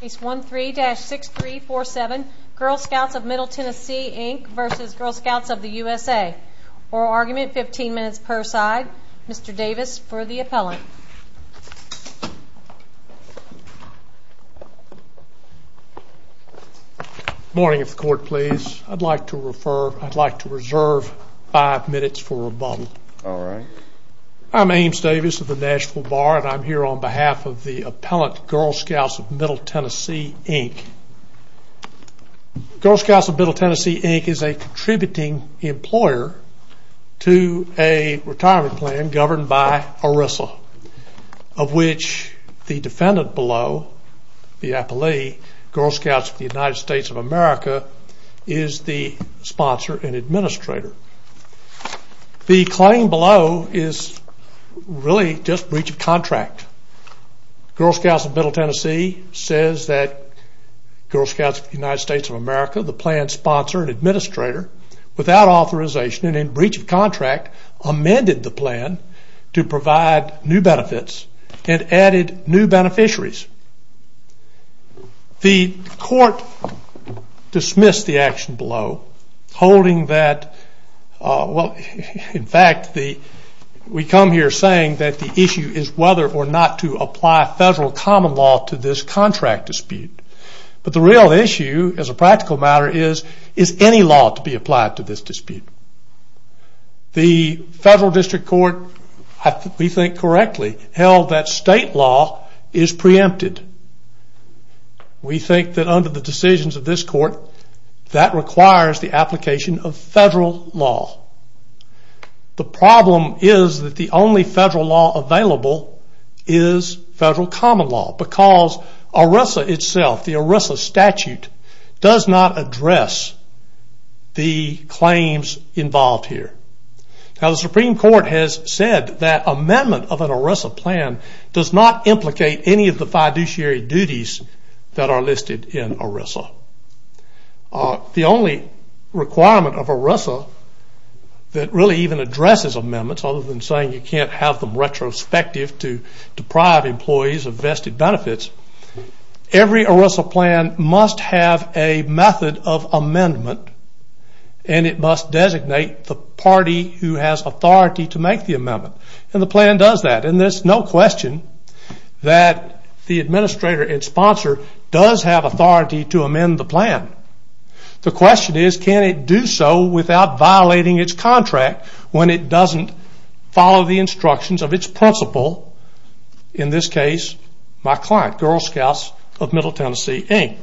Case 13-6347 Girl Scouts of Middle TN Inc v. Girl Scouts of USA Oral argument 15 minutes per side Mr. Davis for the appellant Morning if the court please I'd like to reserve 5 minutes for rebuttal Alright I'm Ames Davis of the Nashville Bar and I'm here on behalf of the appellant Girl Scouts of Middle TN Inc Girl Scouts of Middle TN Inc is a contributing employer to a retirement plan governed by ERISA of which the defendant below, the appellee, Girl Scouts of the United States of America is the sponsor and administrator The claim below is really just breach of contract Girl Scouts of Middle Tennessee says that Girl Scouts of the United States of America the plan sponsor and administrator without authorization and in breach of contract amended the plan to provide new benefits and added new beneficiaries The court dismissed the action below holding that, in fact we come here saying that the issue is whether or not to apply federal common law to this contract dispute but the real issue as a practical matter is, is any law to be applied to this dispute The federal district court, if we think correctly, held that state law is preempted We think that under the decisions of this court that requires the application of federal law The problem is that the only federal law available is federal common law because ERISA itself, the ERISA statute does not address the claims involved here Now the Supreme Court has said that amendment of an ERISA plan does not implicate any of the fiduciary duties that are listed in ERISA The only requirement of ERISA that really even addresses amendments other than saying you can't have them retrospective to deprive employees of vested benefits Every ERISA plan must have a method of amendment and it must designate the party who has authority to make the amendment and the plan does that and there is no question that the administrator and sponsor does have authority to amend the plan The question is can it do so without violating its contract when it doesn't follow the instructions of its principal in this case my client, Girl Scouts of Middle Tennessee, Inc.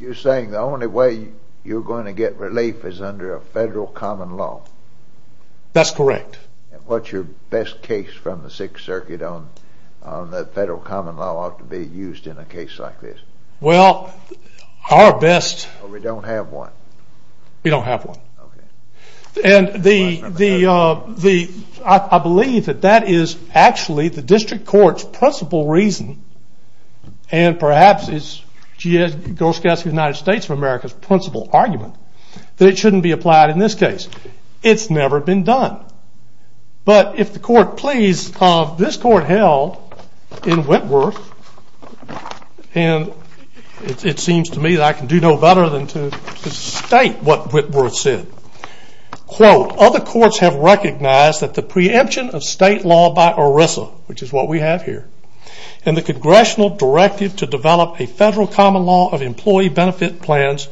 You're saying the only way you're going to get relief is under a federal common law That's correct What's your best case from the 6th Circuit on the federal common law ought to be used in a case like this Well our best We don't have one We don't have one I believe that that is actually the district court's principal reason and perhaps it's Girl Scouts of the United States of America's principal argument that it shouldn't be applied in this case It's never been done But if the court please, this court held in Whitworth and it seems to me that I can do no better than to state what Whitworth said Other courts have recognized that the preemption of state law by ERISA which is what we have here and the congressional directive to develop a federal common law of employee benefit plans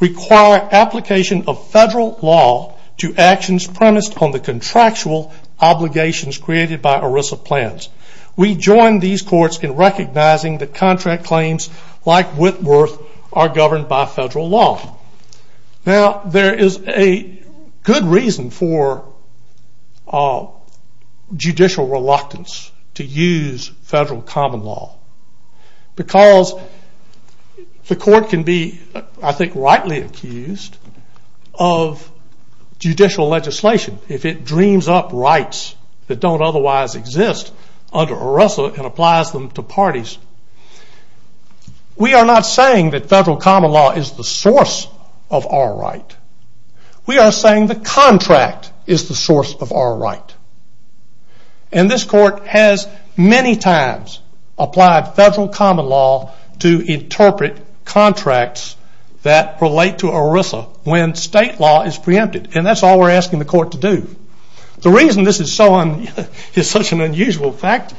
require application of federal law to actions premised on the contractual obligations created by ERISA plans We join these courts in recognizing that contract claims like Whitworth are governed by federal law Now there is a good reason for judicial reluctance to use federal common law because the court can be I think rightly accused of judicial legislation if it dreams up rights that don't otherwise exist under ERISA and applies them to parties We are not saying that federal common law is the source of our right We are saying the contract is the source of our right And this court has many times applied federal common law to interpret contracts that relate to ERISA when state law is preempted and that's all we are asking the court to do The reason this is such an unusual fact,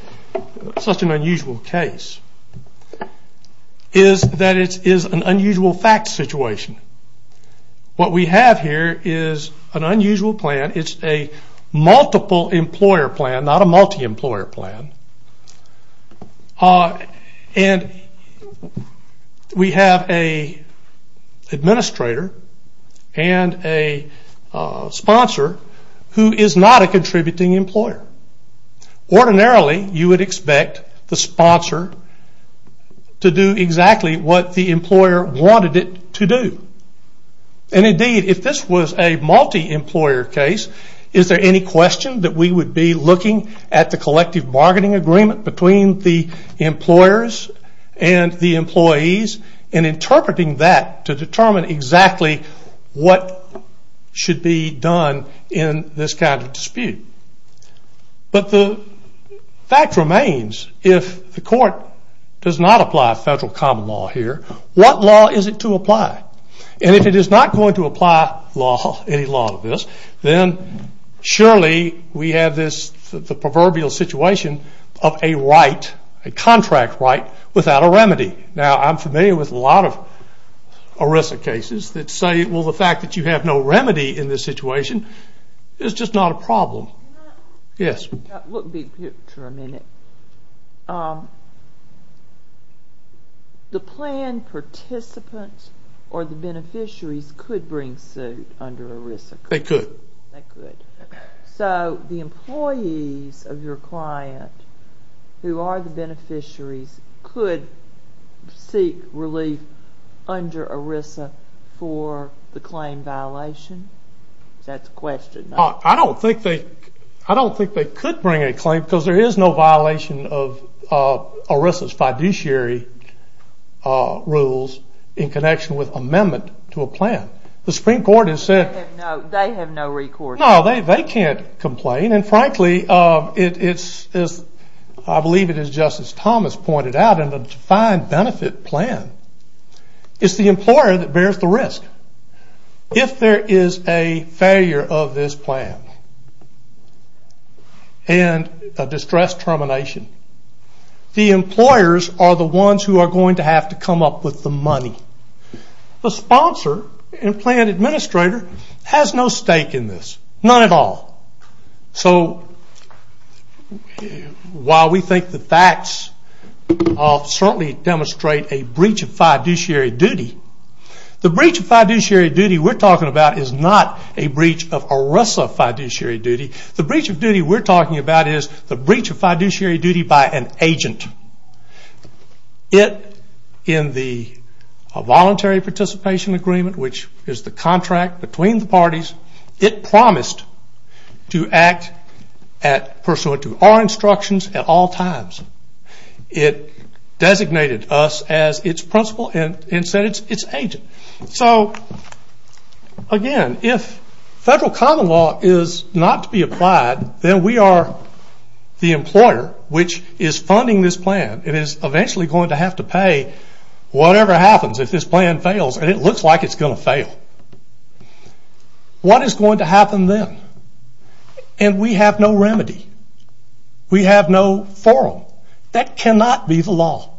such an unusual case is that it is an unusual fact situation What we have here is an unusual plan It's a multiple employer plan, not a multi-employer plan We have an administrator and a sponsor who is not a contributing employer Ordinarily you would expect the sponsor to do exactly what the employer wanted it to do And indeed if this was a multi-employer case is there any question that we would be looking at the collective bargaining agreement between the employers and the employees and interpreting that to determine exactly what should be done in this kind of dispute But the fact remains if the court does not apply federal common law here what law is it to apply? And if it is not going to apply any law to this then surely we have this proverbial situation of a right, a contract right without a remedy Now I'm familiar with a lot of ERISA cases that say the fact that you have no remedy in this situation is just not a problem The plan participants or the beneficiaries could bring suit under ERISA They could So the employees of your client who are the beneficiaries could seek relief under ERISA for the claim violation? That's a question I don't think they could bring a claim because there is no violation of ERISA's fiduciary rules in connection with amendment to a plan The Supreme Court has said They have no recourse No they can't complain and frankly I believe it is just as Thomas pointed out in the defined benefit plan It's the employer that bears the risk If there is a failure of this plan and a distress termination the employers are the ones who are going to have to come up with the money The sponsor and plan administrator has no stake in this None at all So while we think the facts certainly demonstrate a breach of fiduciary duty The breach of fiduciary duty we are talking about is not a breach of ERISA fiduciary duty The breach of fiduciary duty we are talking about is the breach of fiduciary duty by an agent It in the voluntary participation agreement which is the contract between the parties It promised to act pursuant to our instructions at all times It designated us as it's principal and said it's agent So again if federal common law is not to be applied then we are the employer which is funding this plan It is eventually going to have to pay whatever happens if this plan fails and it looks like it's going to fail What is going to happen then? And we have no remedy We have no forum That cannot be the law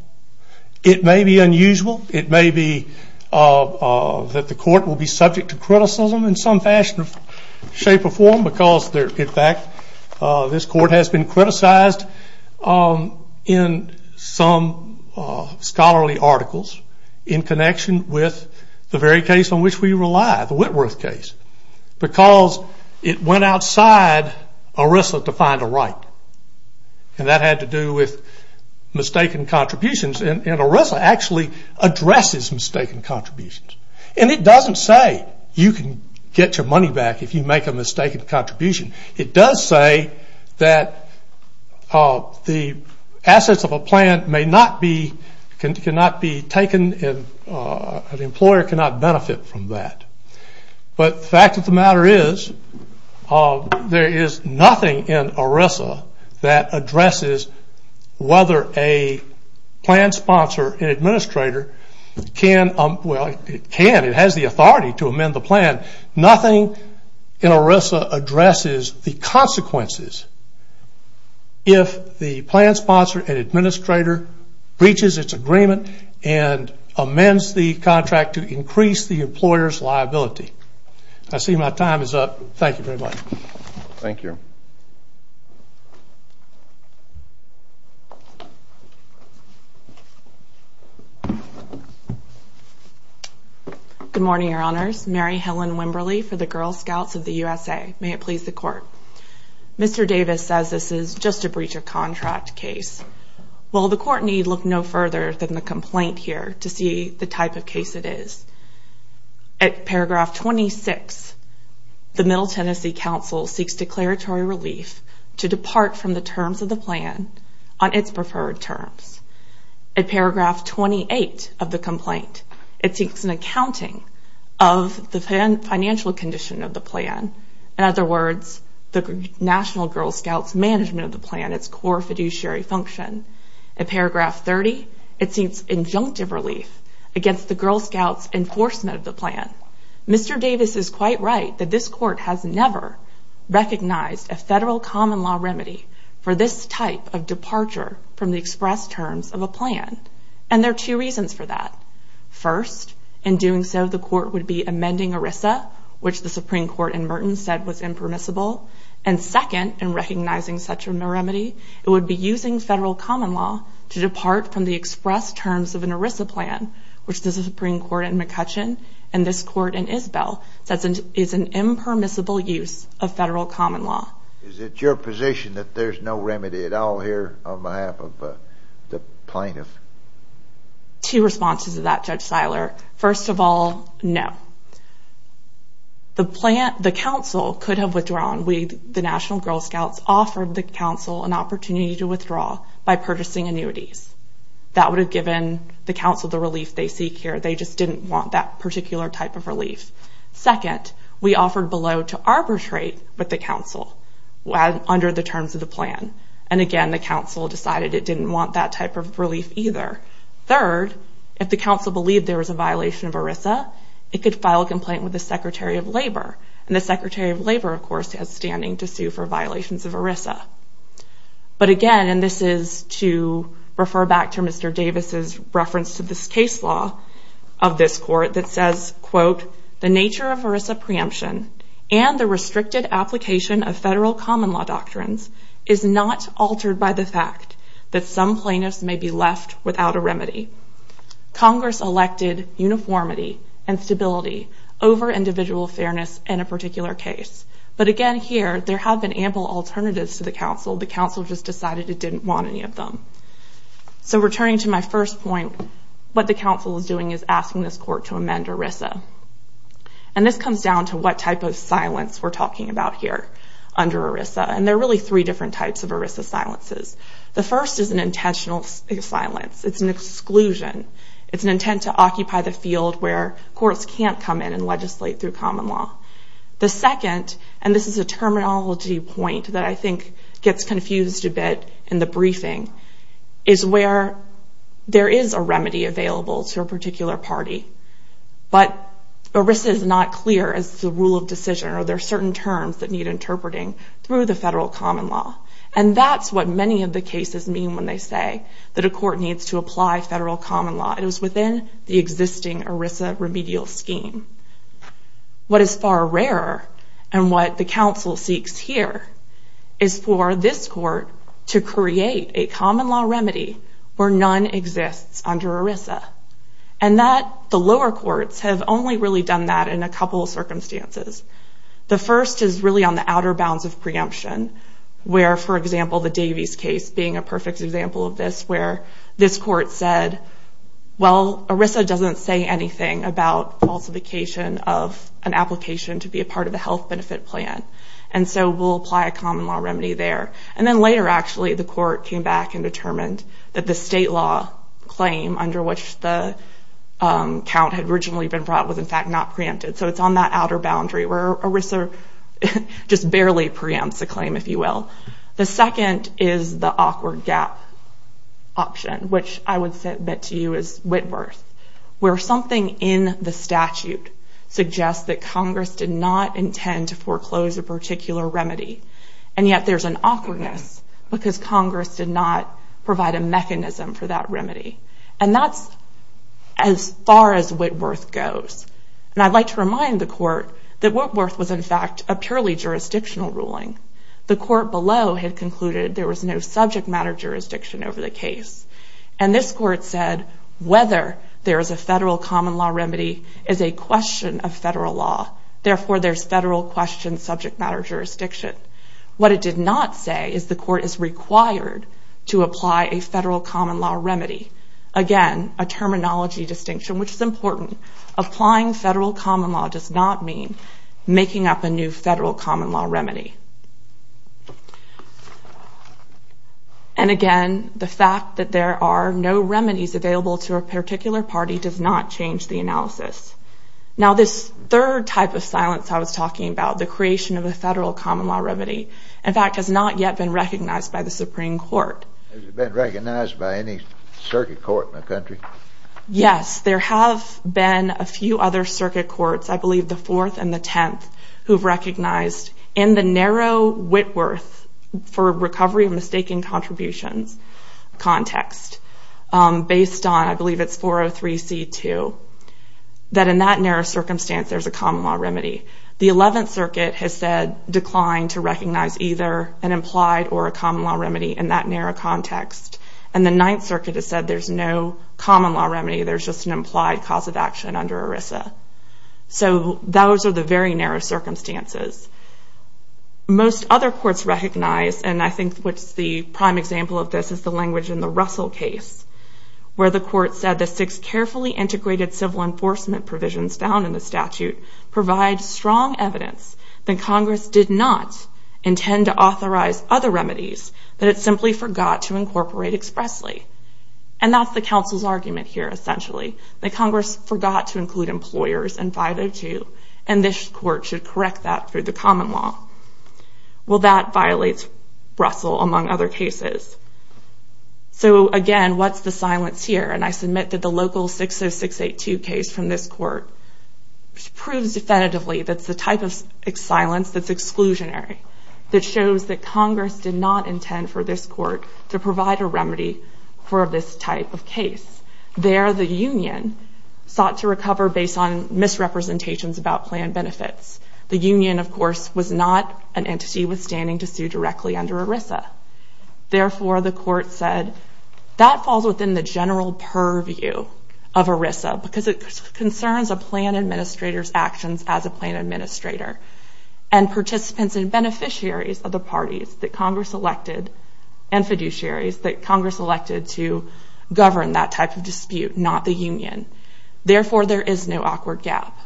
It may be unusual It may be that the court will be subject to criticism in some fashion or shape or form because in fact this court has been criticized in some scholarly articles in connection with the very case on which we rely, the Whitworth case because it went outside ERISA to find a right and that had to do with mistaken contributions and ERISA actually addresses mistaken contributions and it doesn't say you can get your money back if you make a mistaken contribution It does say that the assets of a plan cannot be taken and an employer cannot benefit from that But the fact of the matter is there is nothing in ERISA that addresses whether a plan sponsor and administrator can, well it can, it has the authority to amend the plan Nothing in ERISA addresses the consequences if the plan sponsor and administrator breaches its agreement and amends the contract to increase the employer's liability I see my time is up, thank you very much Thank you Good morning, your honors Mary Helen Wimberly for the Girl Scouts of the USA May it please the court Mr. Davis says this is just a breach of contract case Well the court need look no further than the complaint here to see the type of case it is At paragraph 26 the Middle Tennessee Council seeks declaratory relief to depart from the terms of the plan on its preferred terms At paragraph 28 of the complaint it seeks an accounting of the financial condition of the plan In other words, the National Girl Scouts management of the plan and its core fiduciary function At paragraph 30 it seeks injunctive relief against the Girl Scouts enforcement of the plan Mr. Davis is quite right that this court has never recognized a federal common law remedy for this type of departure from the express terms of a plan and there are two reasons for that First, in doing so the court would be amending ERISA which the Supreme Court in Merton said was impermissible and second, in recognizing such a remedy it would be using federal common law to depart from the express terms of an ERISA plan which the Supreme Court in McCutcheon and this court in Isbell says is an impermissible use of federal common law Is it your position that there is no remedy at all here on behalf of the plaintiff? Two responses to that, Judge Siler First of all, no The council could have withdrawn The National Girl Scouts offered the council an opportunity to withdraw by purchasing annuities That would have given the council the relief they seek here They just didn't want that particular type of relief Second, we offered below to arbitrate with the council under the terms of the plan and again the council decided it didn't want that type of relief either Third, if the council believed there was a violation of ERISA it could file a complaint with the Secretary of Labor and the Secretary of Labor, of course, has standing to sue for violations of ERISA But again, and this is to refer back to Mr. Davis' reference to this case law of this court that says The nature of ERISA preemption and the restricted application of federal common law doctrines is not altered by the fact that some plaintiffs may be left without a remedy Congress elected uniformity and stability over individual fairness in a particular case But again here, there have been ample alternatives to the council The council just decided it didn't want any of them So returning to my first point What the council is doing is asking this court to amend ERISA And this comes down to what type of silence we're talking about here under ERISA And there are really three different types of ERISA silences The first is an intentional silence It's an exclusion It's an intent to occupy the field where courts can't come in and legislate through common law The second, and this is a terminology point that I think gets confused a bit in the briefing is where there is a remedy available to a particular party But ERISA is not clear as the rule of decision or there are certain terms that need interpreting through the federal common law And that's what many of the cases mean when they say that a court needs to apply federal common law It is within the existing ERISA remedial scheme What is far rarer and what the council seeks here is for this court to create a common law remedy where none exists under ERISA And that the lower courts have only really done that in a couple of circumstances The first is really on the outer bounds of preemption where, for example, the Davies case being a perfect example of this where this court said, well, ERISA doesn't say anything about falsification of an application to be a part of the health benefit plan And so we'll apply a common law remedy there And then later, actually, the court came back and determined that the state law claim under which the count had originally been brought was in fact not preempted So it's on that outer boundary where ERISA just barely preempts the claim, if you will The second is the awkward gap option which I would submit to you as Whitworth where something in the statute suggests that Congress did not intend to foreclose a particular remedy And yet there's an awkwardness because Congress did not provide a mechanism for that remedy And that's as far as Whitworth goes And I'd like to remind the court that Whitworth was in fact a purely jurisdictional ruling The court below had concluded there was no subject matter jurisdiction over the case And this court said whether there is a federal common law remedy is a question of federal law Therefore, there's federal question subject matter jurisdiction What it did not say is the court is required to apply a federal common law remedy Again, a terminology distinction, which is important Applying federal common law does not mean making up a new federal common law remedy And again, the fact that there are no remedies available to a particular party does not change the analysis Now this third type of silence I was talking about the creation of a federal common law remedy in fact has not yet been recognized by the Supreme Court Has it been recognized by any circuit court in the country? Yes, there have been a few other circuit courts I believe the 4th and the 10th who've recognized in the narrow Whitworth for recovery of mistaken contributions context based on, I believe it's 403C2 that in that narrow circumstance there's a common law remedy The 11th Circuit has said declined to recognize either an implied or a common law remedy in that narrow context And the 9th Circuit has said there's no common law remedy there's just an implied cause of action under ERISA So those are the very narrow circumstances Most other courts recognize and I think what's the prime example of this is the language in the Russell case where the court said the six carefully integrated civil enforcement provisions found in the statute provide strong evidence that Congress did not intend to authorize other remedies that it simply forgot to incorporate expressly And that's the council's argument here essentially that Congress forgot to include employers in 502 and this court should correct that through the common law Well that violates Russell among other cases So again, what's the silence here? And I submit that the local 60682 case from this court proves definitively that it's the type of silence that's exclusionary that shows that Congress did not intend for this court to provide a remedy for this type of case There the union sought to recover based on misrepresentations about plan benefits The union of course was not an entity withstanding to sue directly under ERISA Therefore the court said that falls within the general purview of ERISA because it concerns a plan administrator's actions as a plan administrator and participants and beneficiaries of the parties that Congress elected and fiduciaries that Congress elected to govern that type of dispute not the union Therefore there is no awkward gap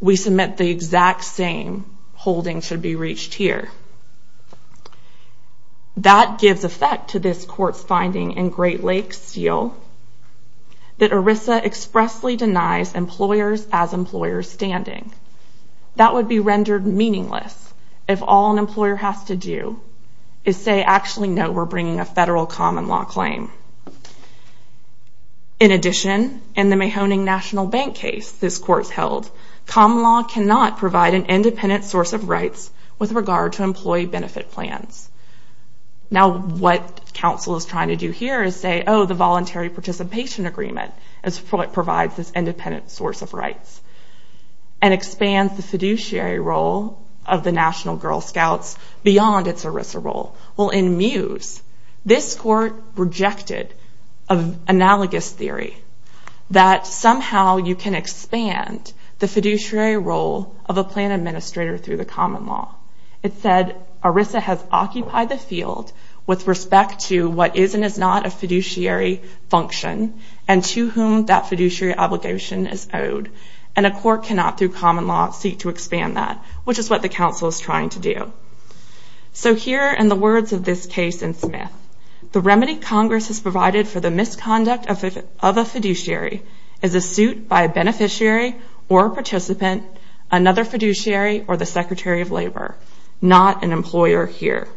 We submit the exact same holding should be reached here That gives effect to this court's finding in Great Lakes Steel that ERISA expressly denies employers as employers standing That would be rendered meaningless if all an employer has to do is say actually no we're bringing a federal common law claim In addition, in the Mahoning National Bank case this court held common law cannot provide an independent source of rights with regard to employee benefit plans Now what council is trying to do here is say oh the voluntary participation agreement provides this independent source of rights and expands the fiduciary role of the National Girl Scouts beyond its ERISA role Well in Mews this court rejected an analogous theory that somehow you can expand the fiduciary role of a plan administrator through the common law It said ERISA has occupied the field with respect to what is and is not a fiduciary function and to whom that fiduciary obligation is owed and a court cannot through common law seek to expand that which is what the council is trying to do So here in the words of this case in Smith The remedy Congress has provided for the misconduct of a fiduciary is a suit by a beneficiary or a participant another fiduciary or the Secretary of Labor not an employer here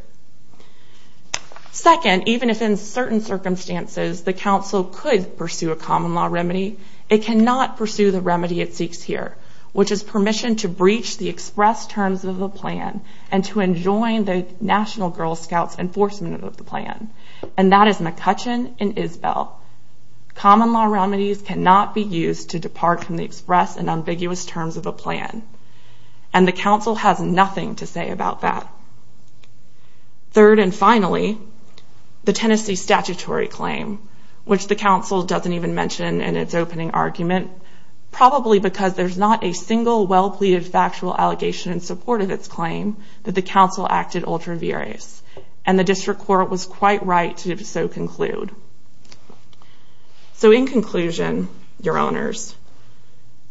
Second, even if in certain circumstances the council could pursue a common law remedy it cannot pursue the remedy it seeks here which is permission to breach the express terms of a plan and to enjoin the National Girl Scouts enforcement of the plan and that is McCutcheon and Isbell Common law remedies cannot be used to depart from the express and ambiguous terms of a plan and the council has nothing to say about that Third and finally the Tennessee statutory claim which the council doesn't even mention in its opening argument probably because there's not a single well pleaded factual allegation in support of its claim that the council acted ultra-viris and the district court was quite right to so conclude So in conclusion, your owners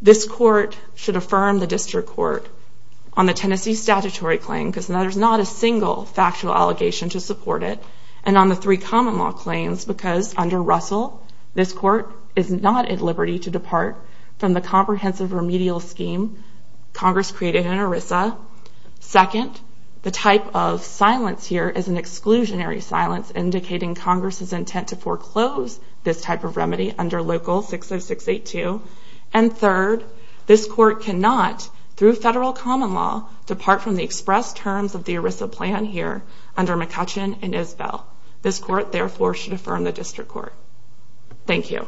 this court should affirm the district court on the Tennessee statutory claim because there's not a single factual allegation to support it and on the three common law claims because under Russell this court is not at liberty to depart from the comprehensive remedial scheme Congress created in ERISA Second, the type of silence here is an exclusionary silence indicating Congress' intent to foreclose this type of remedy under Local 60682 and third, this court cannot through federal common law depart from the express terms of the ERISA plan here under McCutcheon and Isbell This court therefore should affirm the district court Thank you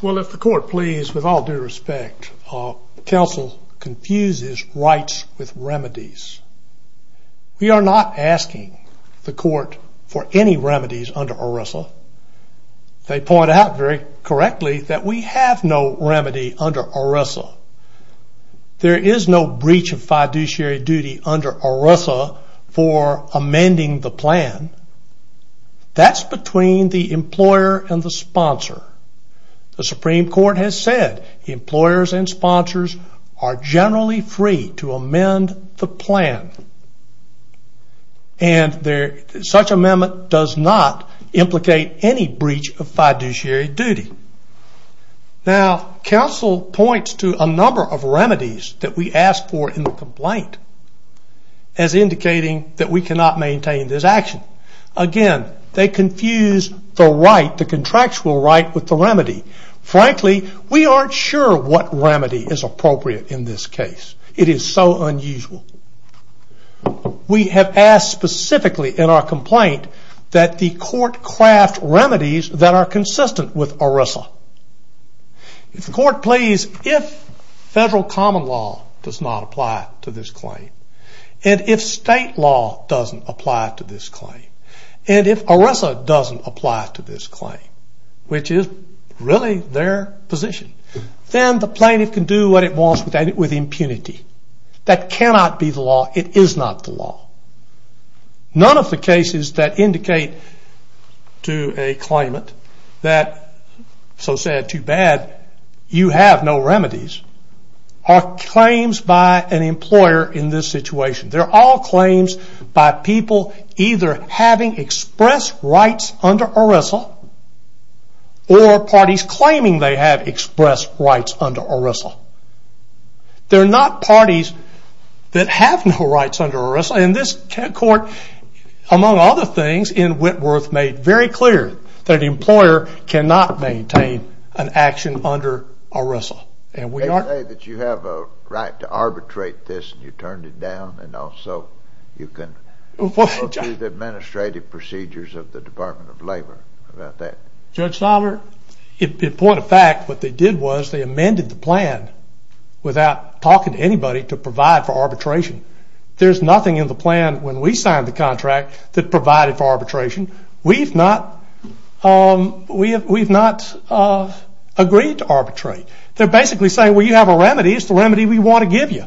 Well if the court please with all due respect Council confuses rights with remedies We are not asking the court for any remedies under ERISA They point out very correctly that we have no remedy under ERISA There is no breach of fiduciary duty under ERISA for amending the plan That's between the employer and the sponsor The Supreme Court has said employers and sponsors are generally free to amend the plan and such amendment does not implicate any breach of fiduciary duty Now, Council points to a number of remedies that we ask for in the complaint as indicating that we cannot maintain this action Again, they confuse the contractual right with the remedy Frankly, we aren't sure what remedy is appropriate in this case It is so unusual We have asked specifically in our complaint that the court craft remedies that are consistent with ERISA If the court please If federal common law does not apply to this claim and if state law doesn't apply to this claim and if ERISA doesn't apply to this claim which is really their position then the plaintiff can do what it wants with impunity That cannot be the law It is not the law None of the cases that indicate to a claimant that so sad, too bad you have no remedies are claims by an employer in this situation They are all claims by people either having express rights under ERISA or parties claiming they have express rights under ERISA They are not parties that have no rights under ERISA and this court among other things in Whitworth made very clear that the employer cannot maintain an action under ERISA They say that you have a right to arbitrate this and you turned it down and also you can go through the administrative procedures of the Department of Labor about that Judge Sommer in point of fact what they did was they amended the plan without talking to anybody to provide for arbitration There is nothing in the plan when we signed the contract that provided for arbitration We have not agreed to arbitrate They are basically saying you have a remedy it is the remedy we want to give you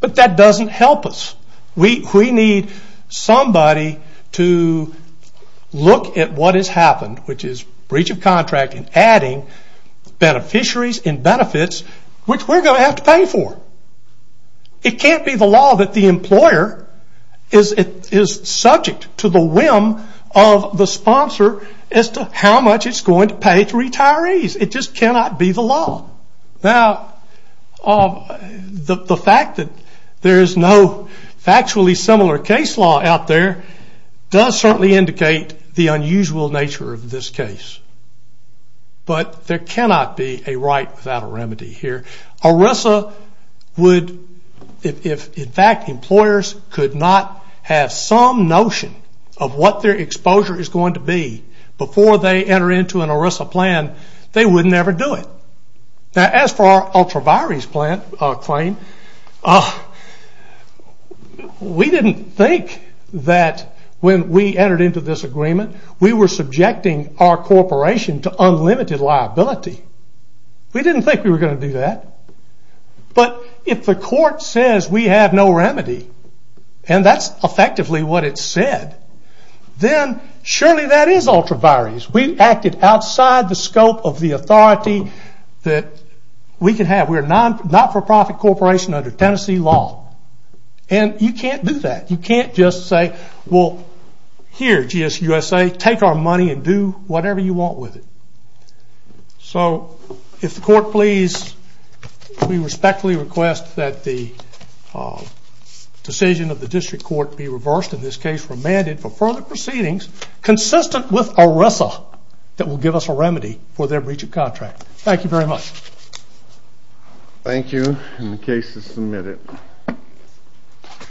but that doesn't help us We need somebody to look at what has happened which is breach of contract and adding beneficiaries and benefits which we are going to have to pay for It can't be the law that the employer is subject to the whim of the sponsor as to how much it is going to pay to retirees It just cannot be the law Now the fact that there is no factually similar case law out there does certainly indicate the unusual nature of this case But there cannot be a right without a remedy here ERISA would if in fact employers could not have some notion of what their exposure is going to be before they enter into an ERISA plan they would never do it Now as for our ultra-virus claim we didn't think that when we entered into this agreement we were subjecting our corporation to unlimited liability We didn't think we were going to do that But if the court says we have no remedy and that's effectively what it said then surely that is ultra-virus We acted outside the scope of the authority that we can have We are a not-for-profit corporation under Tennessee law and you can't do that You can't just say well here GSUSA take our money and do whatever you want with it So if the court please we respectfully request that the decision of the district court be reversed in this case remanded for further proceedings consistent with ERISA that will give us a remedy for their breach of contract Thank you very much Thank you and the case is submitted